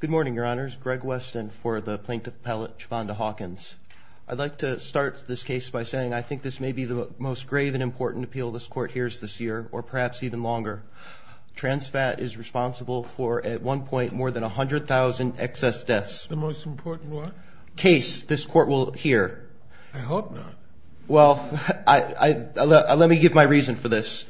Good morning, Your Honors. Greg Weston for the Plaintiff Appellate, Shavonda Hawkins. I'd like to start this case by saying I think this may be the most grave and important appeal this Court hears this year, or perhaps even longer. TransFat is responsible for at one point more than 100,000 excess deaths. The most important what? Case this Court will hear. I hope not. Well, let me give my reason for this.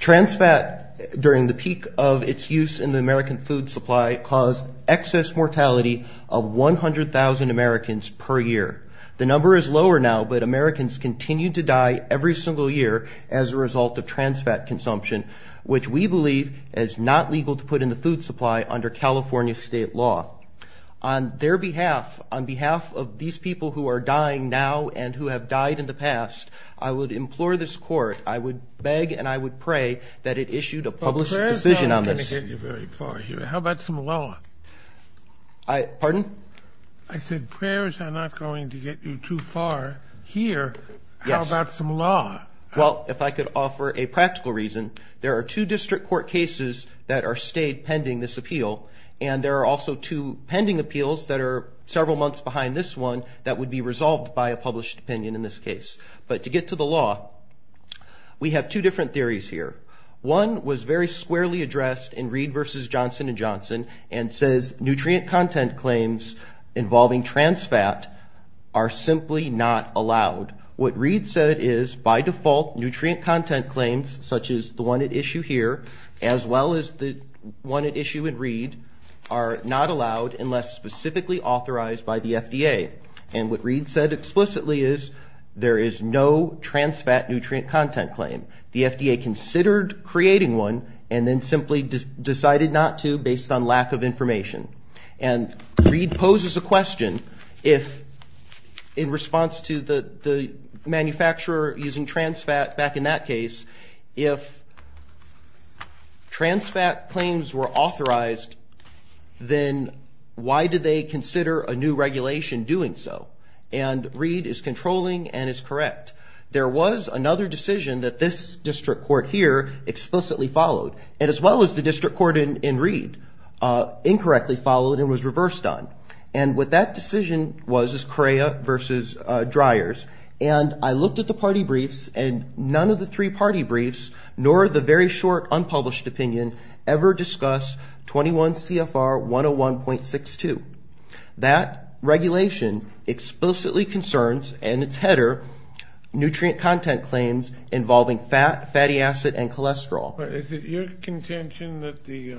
TransFat during the peak of its use in the American food supply caused excess mortality of 100,000 Americans per year. The number is lower now, but Americans continue to die every single year as a result of TransFat consumption, which we believe is not legal to put in the food supply under California state law. On their behalf, on behalf of these people who are dying now and who have died in the past, I would implore this Court, I would beg and I would pray that it issued a published decision on this. Well, prayers are not going to get you very far here. How about some law? Pardon? I said prayers are not going to get you too far here. Yes. How about some law? Well, if I could offer a practical reason, there are two district court cases that are stayed pending this appeal, and there are also two pending appeals that are several months behind this one that would be resolved by a published opinion in this case. But to get to the law, we have two different theories here. One was very squarely addressed in Reed v. Johnson & Johnson and says nutrient content claims involving TransFat are simply not allowed. What Reed said is, by default, nutrient content claims, such as the one at issue here, as well as the one at issue in Reed, are not allowed unless specifically authorized by the FDA. And what Reed said explicitly is there is no TransFat nutrient content claim. The FDA considered creating one and then simply decided not to based on lack of information. And Reed poses a question if, in response to the manufacturer using TransFat back in that case, if TransFat claims were authorized, then why did they consider a new regulation doing so? And Reed is controlling and is correct. There was another decision that this district court here explicitly followed, and as well as the district court in Reed incorrectly followed and was reversed on. And what that decision was is CREA v. Dryers. And I looked at the party briefs, and none of the three party briefs, nor the very short unpublished opinion ever discuss 21 CFR 101.62. That regulation explicitly concerns, and it's header, nutrient content claims involving fat, fatty acid, and cholesterol. Is it your contention that the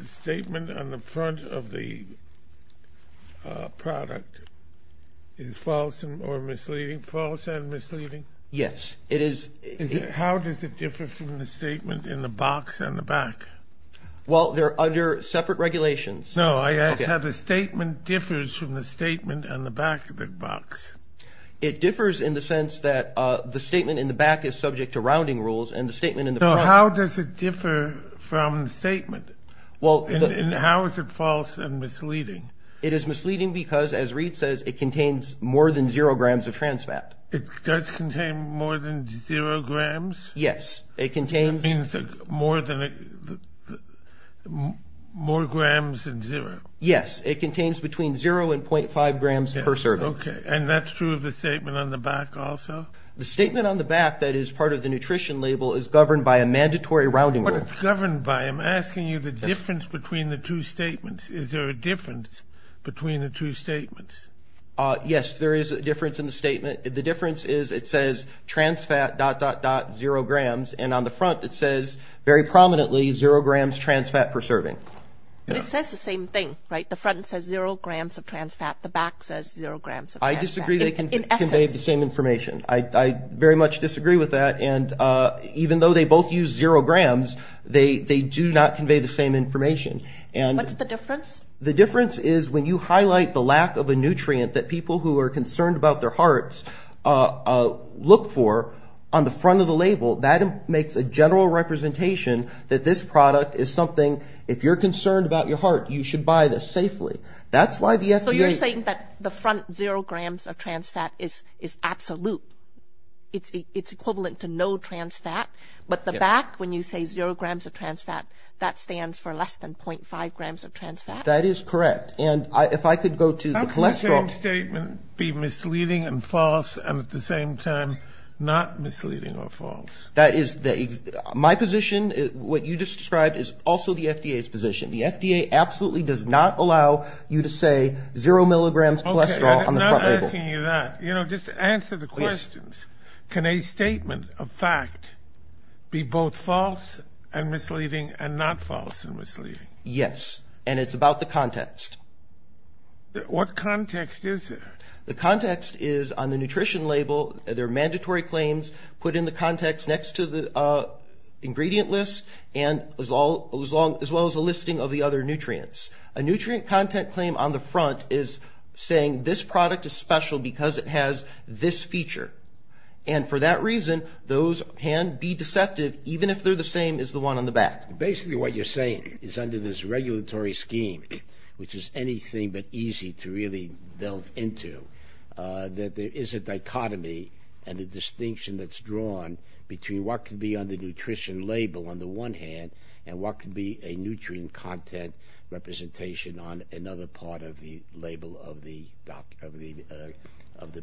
statement on the front of the product is false or misleading? False and misleading? Yes, it is. How does it differ from the statement in the box on the back? Well, they're under separate regulations. No, I asked how the statement differs from the statement on the back of the box. It differs in the sense that the statement in the back is subject to rounding rules, and the statement in the front. So how does it differ from the statement? And how is it false and misleading? It is misleading because, as Reed says, it contains more than zero grams of TransFat. It does contain more than zero grams? Yes. That means more grams than zero. Yes. It contains between zero and .5 grams per serving. Okay. And that's true of the statement on the back also? The statement on the back that is part of the nutrition label is governed by a mandatory rounding rule. What it's governed by, I'm asking you the difference between the two statements. Is there a difference between the two statements? Yes, there is a difference in the statement. The difference is it says TransFat dot, dot, dot, zero grams, and on the front it says very prominently zero grams TransFat per serving. It says the same thing, right? The front says zero grams of TransFat. The back says zero grams of TransFat. I disagree they convey the same information. I very much disagree with that. And even though they both use zero grams, they do not convey the same information. What's the difference? The difference is when you highlight the lack of a nutrient that people who are concerned about their hearts look for, on the front of the label, that makes a general representation that this product is something, if you're concerned about your heart, you should buy this safely. That's why the FDA... So you're saying that the front zero grams of TransFat is absolute. It's equivalent to no TransFat, but the back, when you say zero grams of TransFat, that stands for less than .5 grams of TransFat? That is correct. And if I could go to the cholesterol... How can the same statement be misleading and false and at the same time not misleading or false? My position, what you just described, is also the FDA's position. The FDA absolutely does not allow you to say zero milligrams cholesterol on the front label. Okay, I'm not asking you that. You know, just to answer the questions, can a statement of fact be both false and misleading and not false and misleading? Yes, and it's about the context. What context is there? The context is on the nutrition label, there are mandatory claims put in the context next to the ingredient list, as well as a listing of the other nutrients. A nutrient content claim on the front is saying this product is special because it has this feature. And for that reason, those can be deceptive, even if they're the same as the one on the back. Basically what you're saying is under this regulatory scheme, which is anything but easy to really delve into, that there is a dichotomy and a distinction that's drawn between what could be on the nutrition label on the one hand and what could be a nutrient content representation on another part of the label of the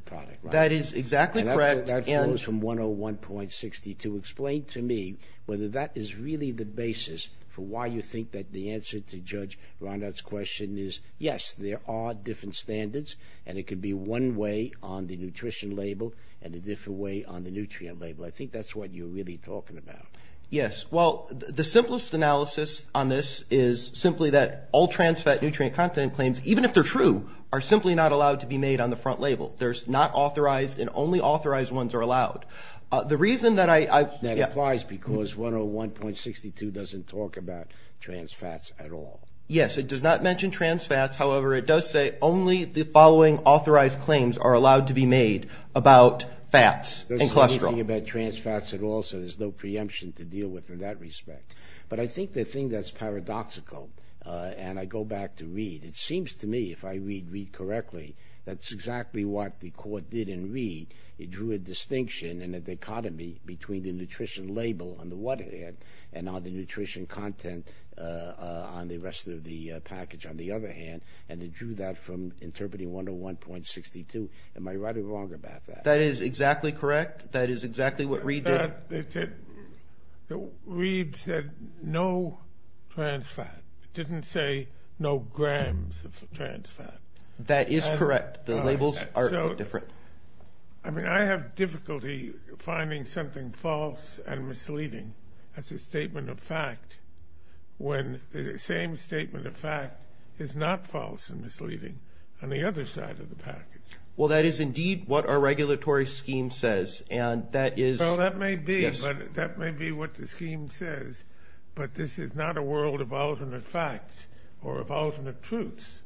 product. That is exactly correct. That follows from 101.62. Explain to me whether that is really the basis for why you think that the answer to Judge Reinhart's question is yes, there are different standards and it could be one way on the nutrition label and a different way on the nutrient label. I think that's what you're really talking about. Yes, well, the simplest analysis on this is simply that all trans-fat nutrient content claims, even if they're true, are simply not allowed to be made on the front label. They're not authorized and only authorized ones are allowed. That applies because 101.62 doesn't talk about trans-fats at all. Yes, it does not mention trans-fats. However, it does say only the following authorized claims are allowed to be made about fats and cholesterol. It doesn't say anything about trans-fats at all, so there's no preemption to deal with in that respect. But I think the thing that's paradoxical, and I go back to read, it seems to me, if I read read correctly, that's exactly what the court did in read. It drew a distinction and a dichotomy between the nutrition label on the one hand and all the nutrition content on the rest of the package on the other hand, and it drew that from interpreting 101.62. Am I right or wrong about that? That is exactly correct. That is exactly what read did. Read said no trans-fat. It didn't say no grams of trans-fat. That is correct. The labels are different. I mean, I have difficulty finding something false and misleading as a statement of fact when the same statement of fact is not false and misleading on the other side of the package. Well, that is indeed what our regulatory scheme says, and that is Well, that may be, but that may be what the scheme says, but this is not a world of alternate facts or of alternate truths.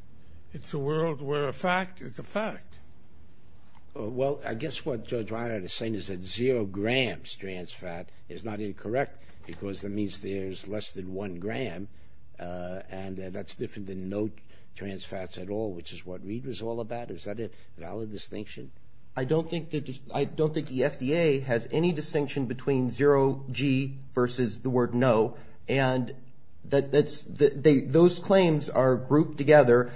It's a world where a fact is a fact. Well, I guess what Judge Reinhart is saying is that zero grams trans-fat is not incorrect because that means there's less than one gram, and that's different than no trans-fats at all, which is what read was all about. Is that a valid distinction? I don't think the FDA has any distinction between zero G versus the word no, and those claims are grouped together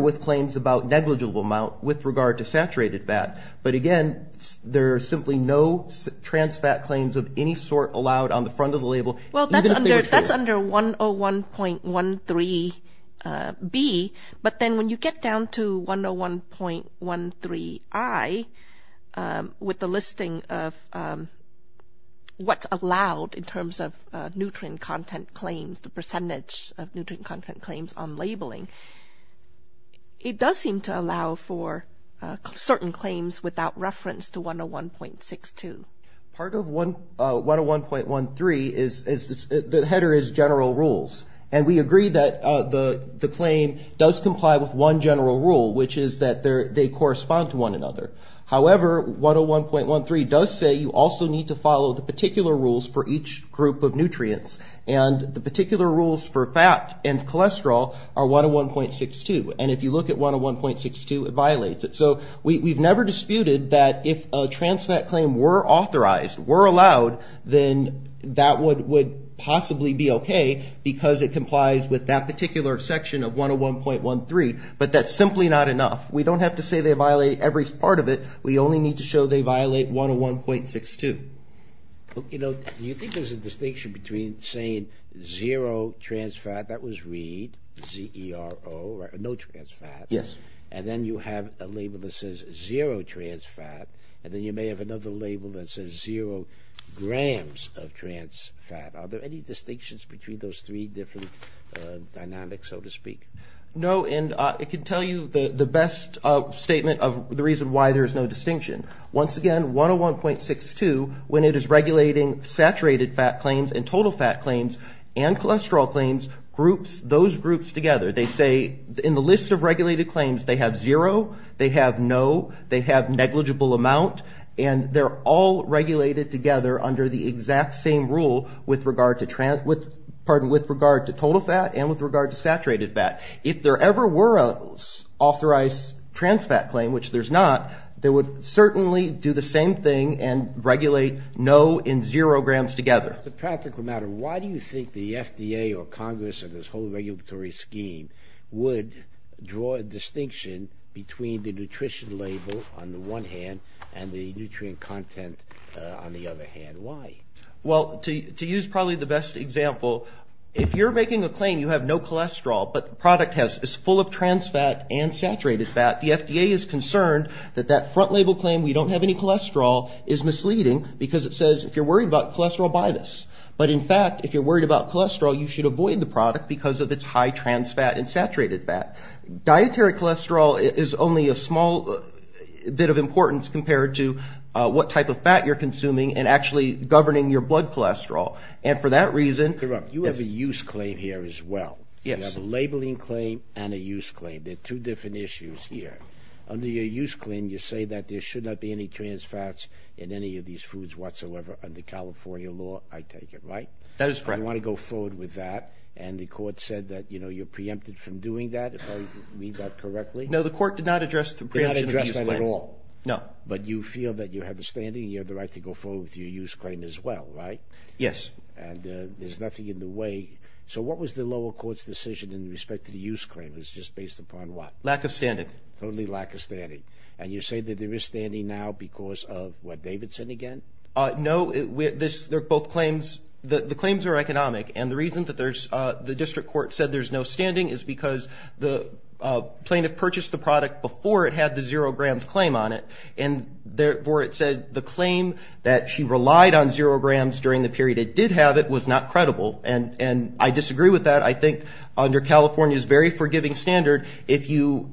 with claims about negligible amount with regard to saturated fat. But, again, there are simply no trans-fat claims of any sort allowed on the front of the label, even if they were true. It's under 101.13B, but then when you get down to 101.13I, with the listing of what's allowed in terms of nutrient content claims, the percentage of nutrient content claims on labeling, it does seem to allow for certain claims without reference to 101.62. Part of 101.13 is the header is general rules, and we agree that the claim does comply with one general rule, which is that they correspond to one another. However, 101.13 does say you also need to follow the particular rules for each group of nutrients, and the particular rules for fat and cholesterol are 101.62, and if you look at 101.62, it violates it. So we've never disputed that if a trans-fat claim were authorized, were allowed, then that would possibly be okay because it complies with that particular section of 101.13, but that's simply not enough. We don't have to say they violate every part of it. We only need to show they violate 101.62. Do you think there's a distinction between saying zero trans-fat, that was read, Z-E-R-O, no trans-fat, and then you have a label that says zero trans-fat, and then you may have another label that says zero grams of trans-fat. Are there any distinctions between those three different dynamics, so to speak? No, and I can tell you the best statement of the reason why there is no distinction. Once again, 101.62, when it is regulating saturated fat claims and total fat claims and cholesterol claims, groups those groups together. They say in the list of regulated claims they have zero, they have no, they have negligible amount, and they're all regulated together under the exact same rule with regard to total fat and with regard to saturated fat. If there ever were an authorized trans-fat claim, which there's not, they would certainly do the same thing and regulate no and zero grams together. As a practical matter, why do you think the FDA or Congress and this whole regulatory scheme would draw a distinction between the nutrition label on the one hand and the nutrient content on the other hand? Why? Well, to use probably the best example, if you're making a claim you have no cholesterol but the product is full of trans-fat and saturated fat, the FDA is concerned that that front label claim, we don't have any cholesterol, is misleading because it says if you're worried about cholesterol, buy this. But in fact, if you're worried about cholesterol, you should avoid the product because of its high trans-fat and saturated fat. Dietary cholesterol is only a small bit of importance compared to what type of fat you're consuming and actually governing your blood cholesterol. And for that reason – You have a use claim here as well. Yes. You have a labeling claim and a use claim. They're two different issues here. Under your use claim, you say that there should not be any trans-fats in any of these foods whatsoever under California law, I take it, right? That is correct. I want to go forward with that and the court said that you're preempted from doing that, if I read that correctly. No, the court did not address the preemption of use claim. Did not address that at all? No. But you feel that you have the standing, you have the right to go forward with your use claim as well, right? Yes. And there's nothing in the way. So what was the lower court's decision in respect to the use claim? It was just based upon what? Lack of standing. Totally lack of standing. And you say that there is standing now because of what? Davidson again? No. They're both claims. The claims are economic. And the reason that the district court said there's no standing is because the plaintiff purchased the product before it had the zero grams claim on it. And therefore, it said the claim that she relied on zero grams during the period it did have it was not credible. And I disagree with that. I think under California's very forgiving standard, if you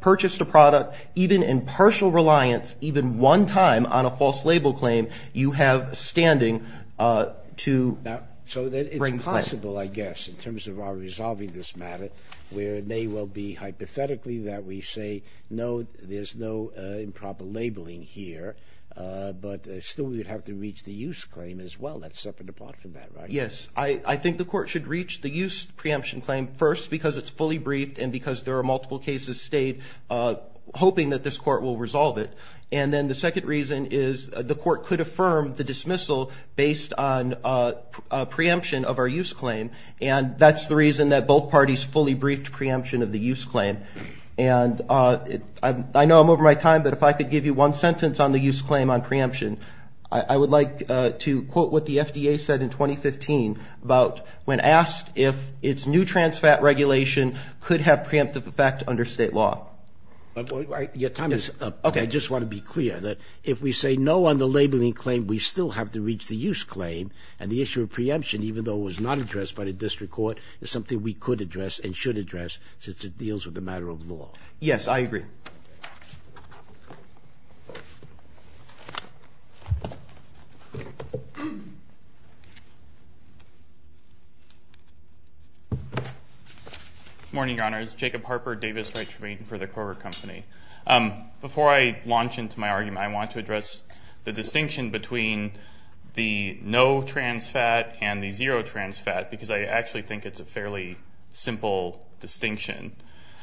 purchased a product even in partial reliance, even one time on a false label claim, you have standing to bring claim. So it's possible, I guess, in terms of our resolving this matter, where it may well be hypothetically that we say, no, there's no improper labeling here, but still we would have to reach the use claim as well. That's separate from that, right? Yes. I think the court should reach the use preemption claim first because it's fully briefed and because there are multiple cases stayed hoping that this court will resolve it. And then the second reason is the court could affirm the dismissal based on preemption of our use claim. And that's the reason that both parties fully briefed preemption of the use claim. And I know I'm over my time, but if I could give you one sentence on the use claim on preemption, I would like to quote what the FDA said in 2015 about when asked if its new trans fat regulation could have preemptive effect under state law. Your time is up. Okay. I just want to be clear that if we say no on the labeling claim, we still have to reach the use claim. And the issue of preemption, even though it was not addressed by the district court, is something we could address and should address since it deals with a matter of law. Yes, I agree. Good morning, Your Honors. Jacob Harper, Davis Retreat for the Kroger Company. Before I launch into my argument, I want to address the distinction between the no trans fat and the zero trans fat because I actually think it's a fairly simple distinction.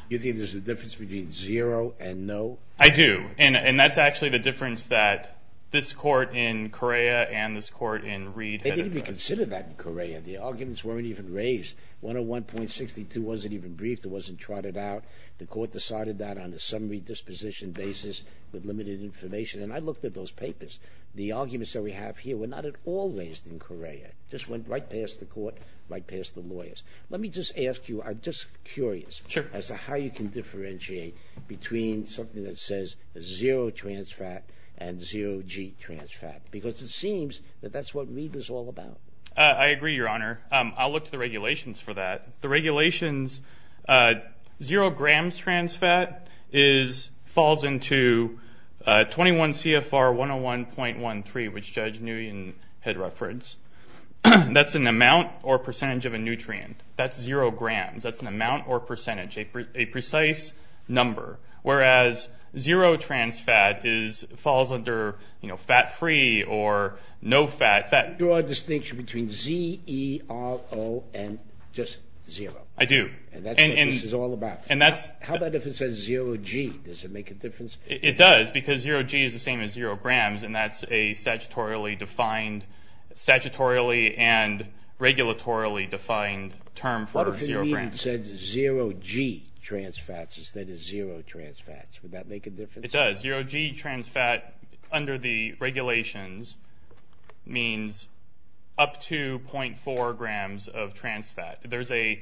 You think there's a difference between zero and no? I do. And that's actually the difference that this court in Correa and this court in Reed had addressed. They didn't even consider that in Correa. The arguments weren't even raised. 101.62 wasn't even briefed. It wasn't trotted out. The court decided that on a summary disposition basis with limited information. And I looked at those papers. The arguments that we have here were not at all raised in Correa. It just went right past the court, right past the lawyers. Let me just ask you, I'm just curious. Sure. As to how you can differentiate between something that says zero trans fat and zero G trans fat because it seems that that's what Reed was all about. I agree, Your Honor. I'll look to the regulations for that. The regulations, zero grams trans fat falls into 21 CFR 101.13, which Judge Nguyen had referenced. That's an amount or percentage of a nutrient. That's zero grams. That's an amount or percentage, a precise number, whereas zero trans fat falls under fat-free or no fat. You draw a distinction between Z-E-R-O and just zero. I do. And that's what this is all about. How about if it says zero G? Does it make a difference? It does because zero G is the same as zero grams, and that's a statutorily defined, statutorily and regulatorily defined term for zero grams. What if it even said zero G trans fats instead of zero trans fats? Would that make a difference? It does. Zero G trans fat under the regulations means up to 0.4 grams of trans fat. The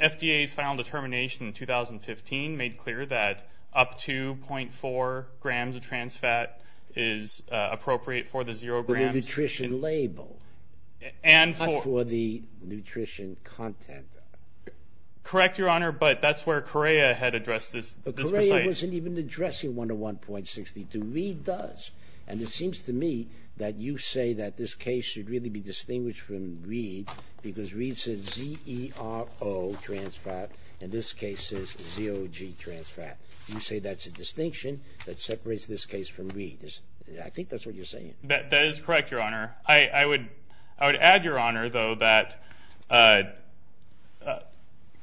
FDA's final determination in 2015 made clear that up to 0.4 grams of trans fat is appropriate for the zero grams. The nutrition label for the nutrition content. Correct, Your Honor, but that's where Correa had addressed this. But Correa wasn't even addressing 101.62. And it seems to me that you say that this case should really be distinguished from Reid because Reid said Z-E-R-O trans fat, and this case is zero G trans fat. You say that's a distinction that separates this case from Reid. I think that's what you're saying. That is correct, Your Honor. I would add, Your Honor, though, that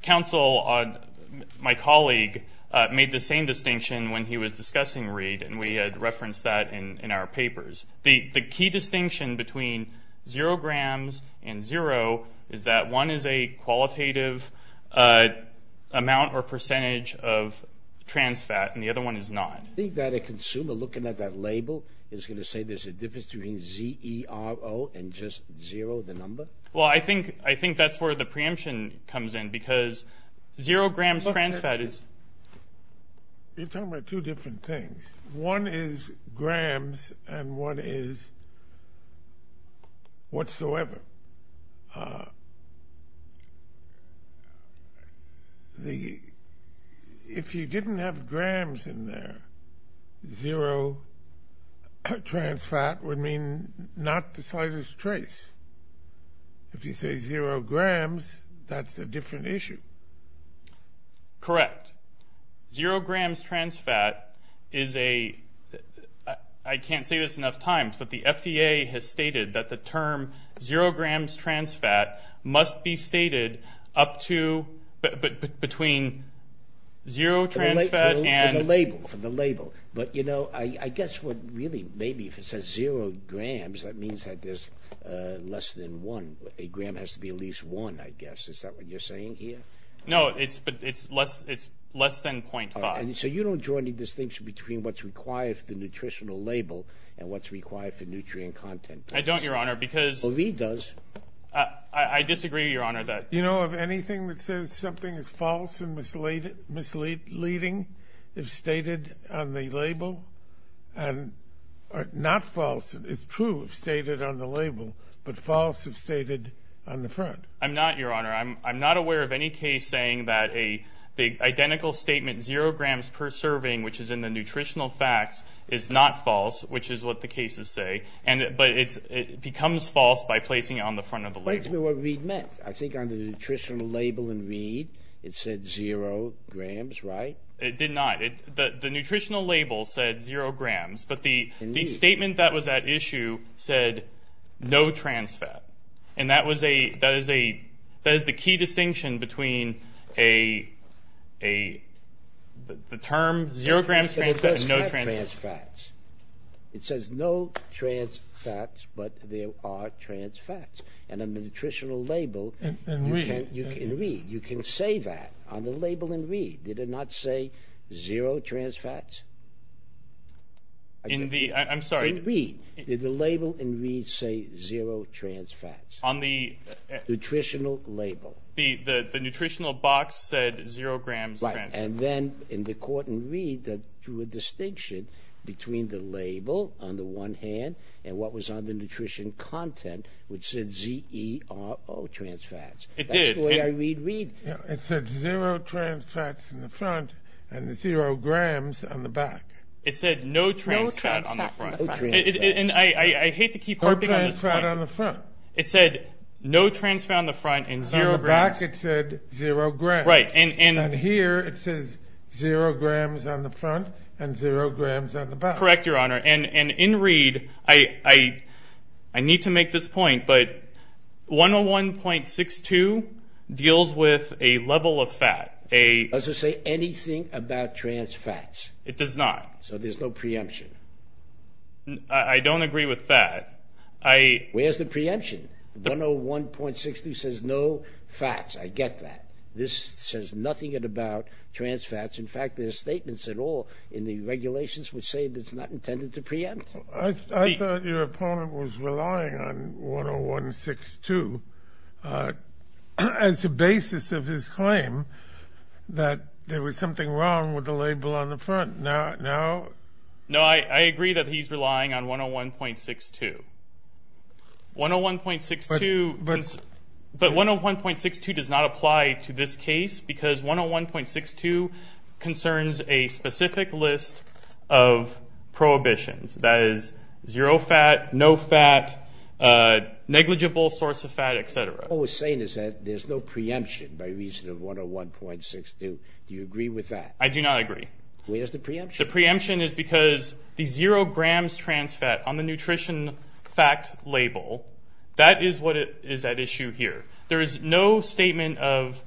counsel, my colleague, made the same distinction when he was discussing Reid, and we had referenced that in our papers. The key distinction between zero grams and zero is that one is a qualitative amount or percentage of trans fat, and the other one is not. Do you think that a consumer looking at that label is going to say there's a difference between Z-E-R-O and just zero, the number? Well, I think that's where the preemption comes in because zero grams trans fat is. You're talking about two different things. One is grams and one is whatsoever. If you didn't have grams in there, zero trans fat would mean not the slightest trace. If you say zero grams, that's a different issue. Correct. Zero grams trans fat is a – I can't say this enough times, but the FDA has stated that the term zero grams trans fat must be stated up to – between zero trans fat and – For the label, for the label. But, you know, I guess what really – maybe if it says zero grams, that means that there's less than one. A gram has to be at least one, I guess. Is that what you're saying here? No, but it's less than 0.5. So you don't draw any distinction between what's required for the nutritional label and what's required for nutrient content? I don't, Your Honor, because – Well, V does. I disagree, Your Honor, that – You know, of anything that says something is false and misleading, if stated on the label, and – or not false, it's true if stated on the label, but false if stated on the front. I'm not, Your Honor. I'm not aware of any case saying that a – the identical statement, zero grams per serving, which is in the nutritional facts, is not false, which is what the cases say. And – but it's – it becomes false by placing it on the front of the label. Explain to me what V meant. I think on the nutritional label in V, it said zero grams, right? It did not. The nutritional label said zero grams, but the statement that was at issue said no trans fat. And that was a – that is a – that is the key distinction between a – a – the term zero grams trans fat and no trans fat. It doesn't have trans fats. It says no trans fats, but there are trans fats. And on the nutritional label, you can read. You can say that on the label and read. Did it not say zero trans fats? In the – I'm sorry. Did the label in V say zero trans fats? On the – Nutritional label. The – the – the nutritional box said zero grams trans fats. Right. And then in the court in V, that drew a distinction between the label on the one hand and what was on the nutrition content, which said Z-E-R-O, trans fats. It did. That's the way I read V. It said zero trans fats in the front and zero grams on the back. It said no trans fat on the front. No trans fat on the front. And I – I hate to keep harping on this point. No trans fat on the front. It said no trans fat on the front and zero grams. On the back it said zero grams. Right. And – and – And here it says zero grams on the front and zero grams on the back. Correct, Your Honor. And – and in read, I – I need to make this point, but 101.62 deals with a level of fat, a – Does it say anything about trans fats? It does not. So there's no preemption. I – I don't agree with that. I – Where's the preemption? 101.62 says no fats. I get that. This says nothing about trans fats. In fact, there's statements at all in the regulations which say it's not intended to preempt. I thought your opponent was relying on 101.62 as a basis of his claim that there was something wrong with the label on the front. Now – now – No, I – I agree that he's relying on 101.62. 101.62 – But – That is zero fat, no fat, negligible source of fat, et cetera. All we're saying is that there's no preemption by reason of 101.62. Do you agree with that? I do not agree. Where's the preemption? The preemption is because the zero grams trans fat on the nutrition fact label, that is what is at issue here. There is no statement of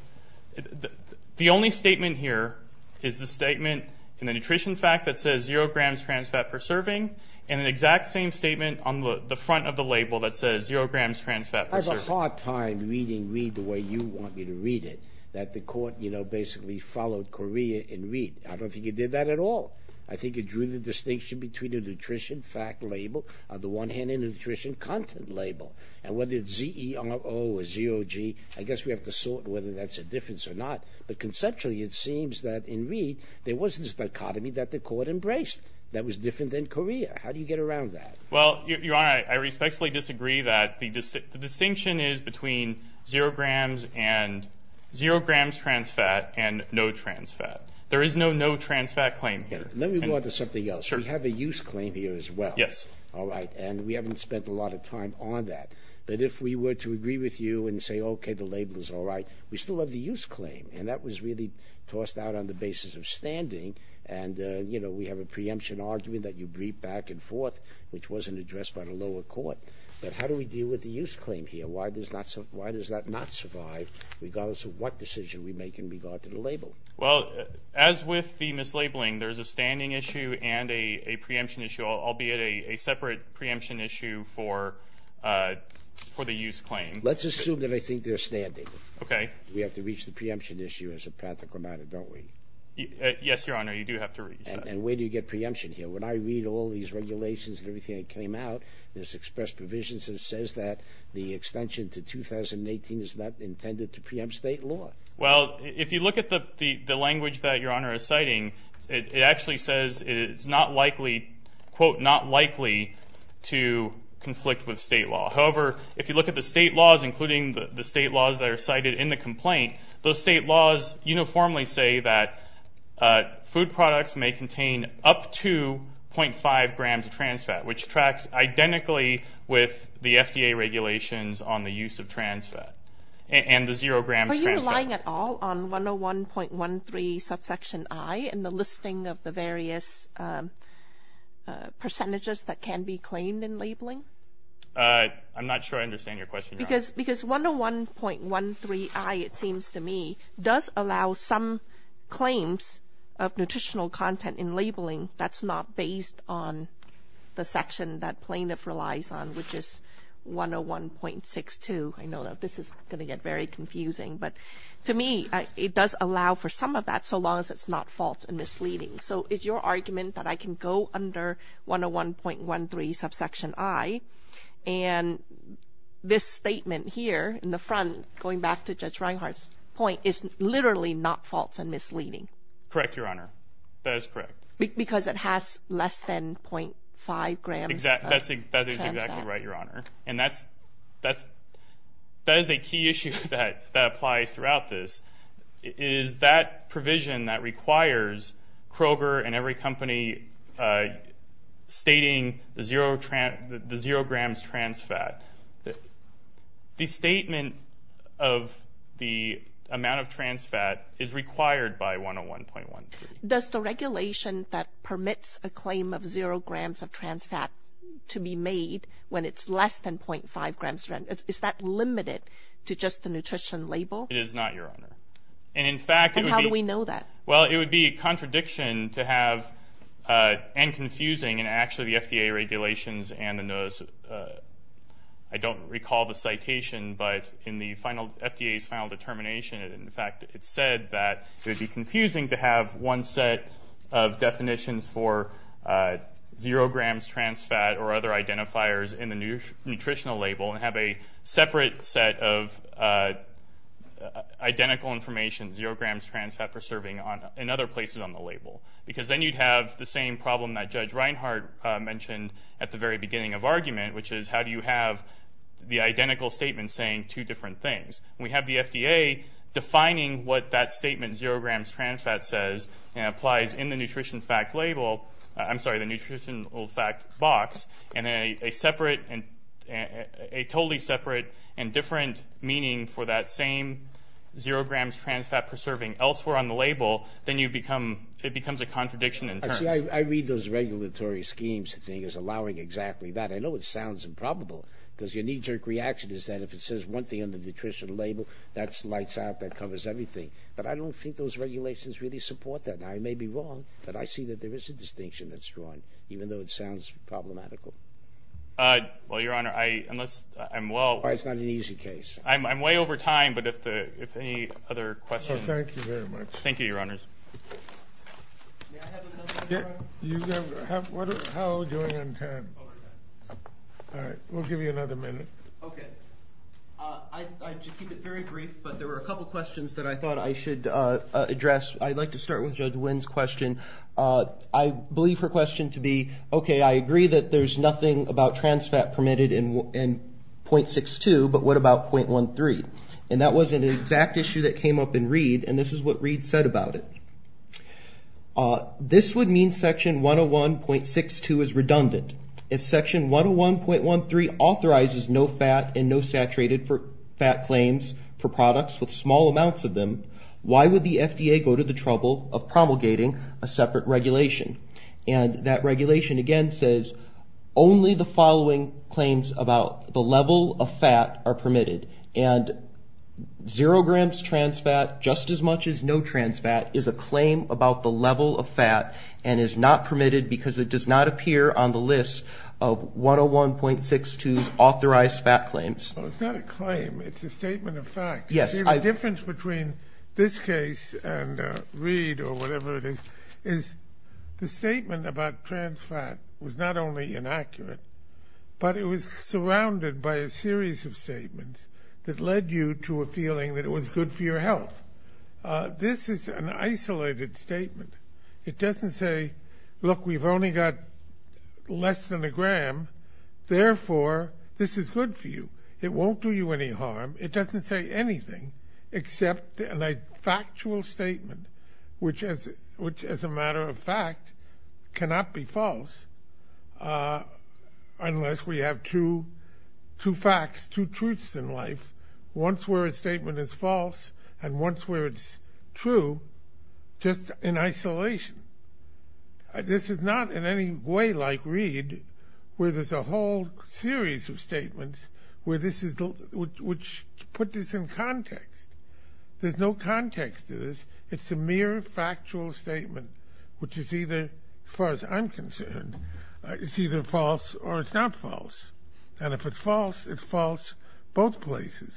– the only statement here is the statement in the nutrition fact that says zero grams trans fat per serving and an exact same statement on the front of the label that says zero grams trans fat per serving. I have a hard time reading read the way you want me to read it, that the court, you know, basically followed Correa in read. I don't think he did that at all. I think he drew the distinction between the nutrition fact label, the one-handed nutrition content label, and whether it's Z-E-R-O or zero G, I guess we have to sort whether that's a difference or not. But conceptually, it seems that in read, there was this dichotomy that the court embraced that was different than Correa. How do you get around that? Well, Your Honor, I respectfully disagree that the distinction is between zero grams trans fat and no trans fat. There is no no trans fat claim here. Let me go on to something else. We have a use claim here as well. Yes. All right. And we haven't spent a lot of time on that. But if we were to agree with you and say, okay, the label is all right, we still have the use claim. And that was really tossed out on the basis of standing. And, you know, we have a preemption argument that you briefed back and forth, which wasn't addressed by the lower court. But how do we deal with the use claim here? Why does that not survive regardless of what decision we make in regard to the label? Well, as with the mislabeling, there's a standing issue and a preemption issue, albeit a separate preemption issue for the use claim. Let's assume that I think they're standing. Okay. We have to reach the preemption issue as a practical matter, don't we? Yes, Your Honor, you do have to reach that. And where do you get preemption here? When I read all these regulations and everything that came out, there's express provisions that says that the extension to 2018 is not intended to preempt state law. Well, if you look at the language that Your Honor is citing, it actually says it's not likely, quote, not likely to conflict with state law. However, if you look at the state laws, including the state laws that are cited in the complaint, those state laws uniformly say that food products may contain up to 0.5 grams of trans fat, which tracks identically with the FDA regulations on the use of trans fat and the zero grams trans fat. Are you relying at all on 101.13 subsection I in the listing of the various percentages that can be claimed in labeling? I'm not sure I understand your question, Your Honor. Because 101.13 I, it seems to me, does allow some claims of nutritional content in labeling that's not based on the section that plaintiff relies on, which is 101.62. I know that this is going to get very confusing. But to me, it does allow for some of that so long as it's not false and misleading. So is your argument that I can go under 101.13 subsection I and this statement here in the front, going back to Judge Reinhart's point, is literally not false and misleading? Correct, Your Honor. That is correct. Because it has less than 0.5 grams of trans fat. That is exactly right, Your Honor. And that is a key issue that applies throughout this, is that provision that requires Kroger and every company stating the zero grams trans fat. The statement of the amount of trans fat is required by 101.13. Does the regulation that permits a claim of zero grams of trans fat to be made when it's less than 0.5 grams? Is that limited to just the nutrition label? It is not, Your Honor. And how do we know that? Well, it would be a contradiction to have, and confusing, and actually the FDA regulations and the notice, I don't recall the citation, but in the FDA's final determination, in fact, it said that it would be confusing to have one set of definitions for zero grams trans fat or other identifiers in the nutritional label and have a separate set of identical information, zero grams trans fat for serving in other places on the label. Because then you'd have the same problem that Judge Reinhart mentioned at the very beginning of argument, which is how do you have the identical statement saying two different things? We have the FDA defining what that statement, zero grams trans fat, says and applies in the nutritional fact box and a totally separate and different meaning for that same zero grams trans fat per serving elsewhere on the label, then it becomes a contradiction in terms. I read those regulatory schemes as allowing exactly that. I know it sounds improbable because your knee-jerk reaction is that if it says one thing on the nutritional label, that lights out, that covers everything. But I don't think those regulations really support that. Now, I may be wrong, but I see that there is a distinction that's drawn, even though it sounds problematical. Well, Your Honor, unless I'm well. It's not an easy case. I'm way over time, but if any other questions. Thank you very much. Thank you, Your Honors. May I have another minute, Your Honor? How are we doing on time? Over time. All right. We'll give you another minute. Okay. I should keep it very brief, but there were a couple questions that I thought I should address. I'd like to start with Judge Wynn's question. I believe her question to be, okay, I agree that there's nothing about trans fat permitted in .62, but what about .13? And that was an exact issue that came up in Reed, and this is what Reed said about it. This would mean section 101.62 is redundant. If section 101.13 authorizes no fat and no saturated fat claims for products with small amounts of them, why would the FDA go to the trouble of promulgating a separate regulation? And that regulation, again, says only the following claims about the level of fat are permitted, and zero grams trans fat just as much as no trans fat is a claim about the level of fat and is not permitted because it does not appear on the list of 101.62's authorized fat claims. Well, it's not a claim. It's a statement of fact. Yes. See, the difference between this case and Reed or whatever it is, is the statement about trans fat was not only inaccurate, but it was surrounded by a series of statements that led you to a feeling that it was good for your health. This is an isolated statement. It doesn't say, look, we've only got less than a gram, therefore this is good for you. It won't do you any harm. It doesn't say anything except a factual statement, which as a matter of fact cannot be false unless we have two facts, two truths in life, once where a statement is false and once where it's true, just in isolation. This is not in any way like Reed where there's a whole series of statements which put this in context. There's no context to this. It's a mere factual statement, which is either, as far as I'm concerned, it's either false or it's not false. And if it's false, it's false both places.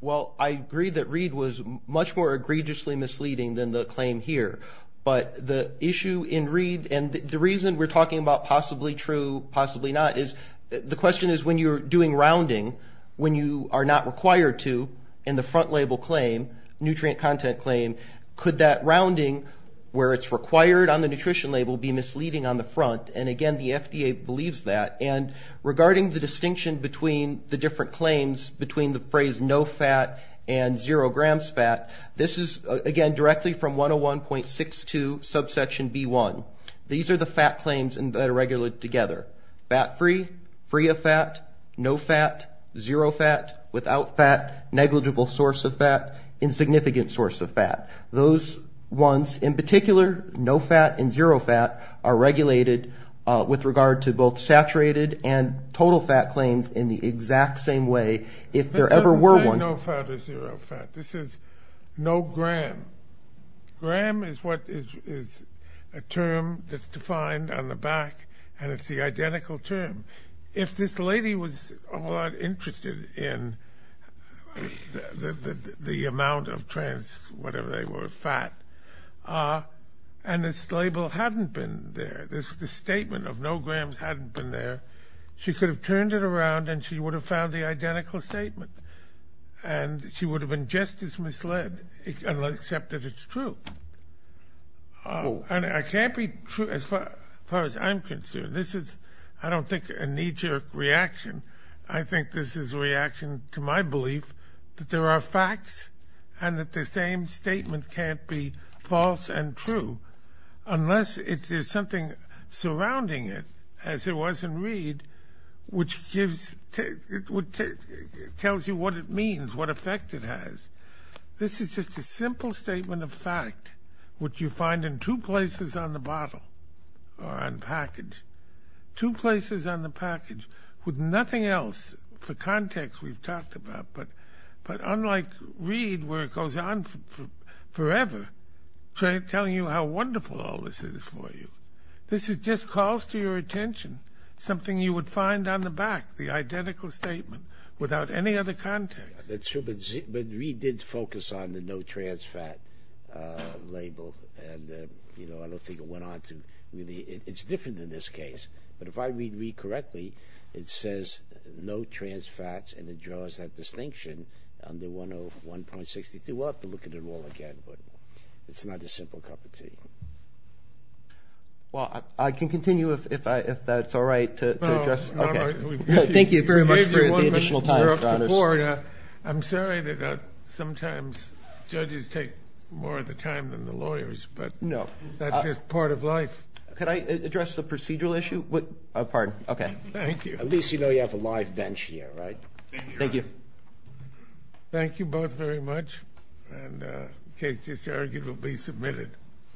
Well, I agree that Reed was much more egregiously misleading than the claim here. But the issue in Reed, and the reason we're talking about possibly true, possibly not, is the question is when you're doing rounding, when you are not required to in the front label claim, nutrient content claim, could that rounding where it's required on the nutrition label be misleading on the front? And, again, the FDA believes that. And regarding the distinction between the different claims between the phrase no fat and zero grams fat, this is, again, directly from 101.62 subsection B1. These are the fat claims that are regulated together. Fat-free, free of fat, no fat, zero fat, without fat, negligible source of fat, insignificant source of fat. Those ones, in particular, no fat and zero fat, are regulated with regard to both saturated and total fat claims in the exact same way if there ever were one. It doesn't say no fat or zero fat. This is no gram. Gram is what is a term that's defined on the back, and it's the identical term. If this lady was interested in the amount of trans-whatever they were, fat, and this label hadn't been there, this statement of no grams hadn't been there, she could have turned it around and she would have found the identical statement. And she would have been just as misled, except that it's true. And it can't be true as far as I'm concerned. This is, I don't think, a knee-jerk reaction. I think this is a reaction to my belief that there are facts and that the same statement can't be false and true unless there's something surrounding it, as there was in Reed, which tells you what it means, what effect it has. This is just a simple statement of fact, which you find in two places on the bottle or on package, two places on the package with nothing else for context we've talked about, but unlike Reed, where it goes on forever, telling you how wonderful all this is for you, this just calls to your attention something you would find on the back, the identical statement, without any other context. That's true, but Reed did focus on the no trans fat label and I don't think it went on to really, it's different in this case. But if I read Reed correctly, it says no trans fats and it draws that distinction under 101.62. We'll have to look at it all again, but it's not a simple cup of tea. Well, I can continue if that's all right to address. Thank you very much for the additional time, Your Honors. I'm sorry that sometimes judges take more of the time than the lawyers, but that's just part of life. Could I address the procedural issue? Pardon, okay. Thank you. At least you know you have a live bench here, right? Thank you. Thank you both very much, and the case is arguably submitted.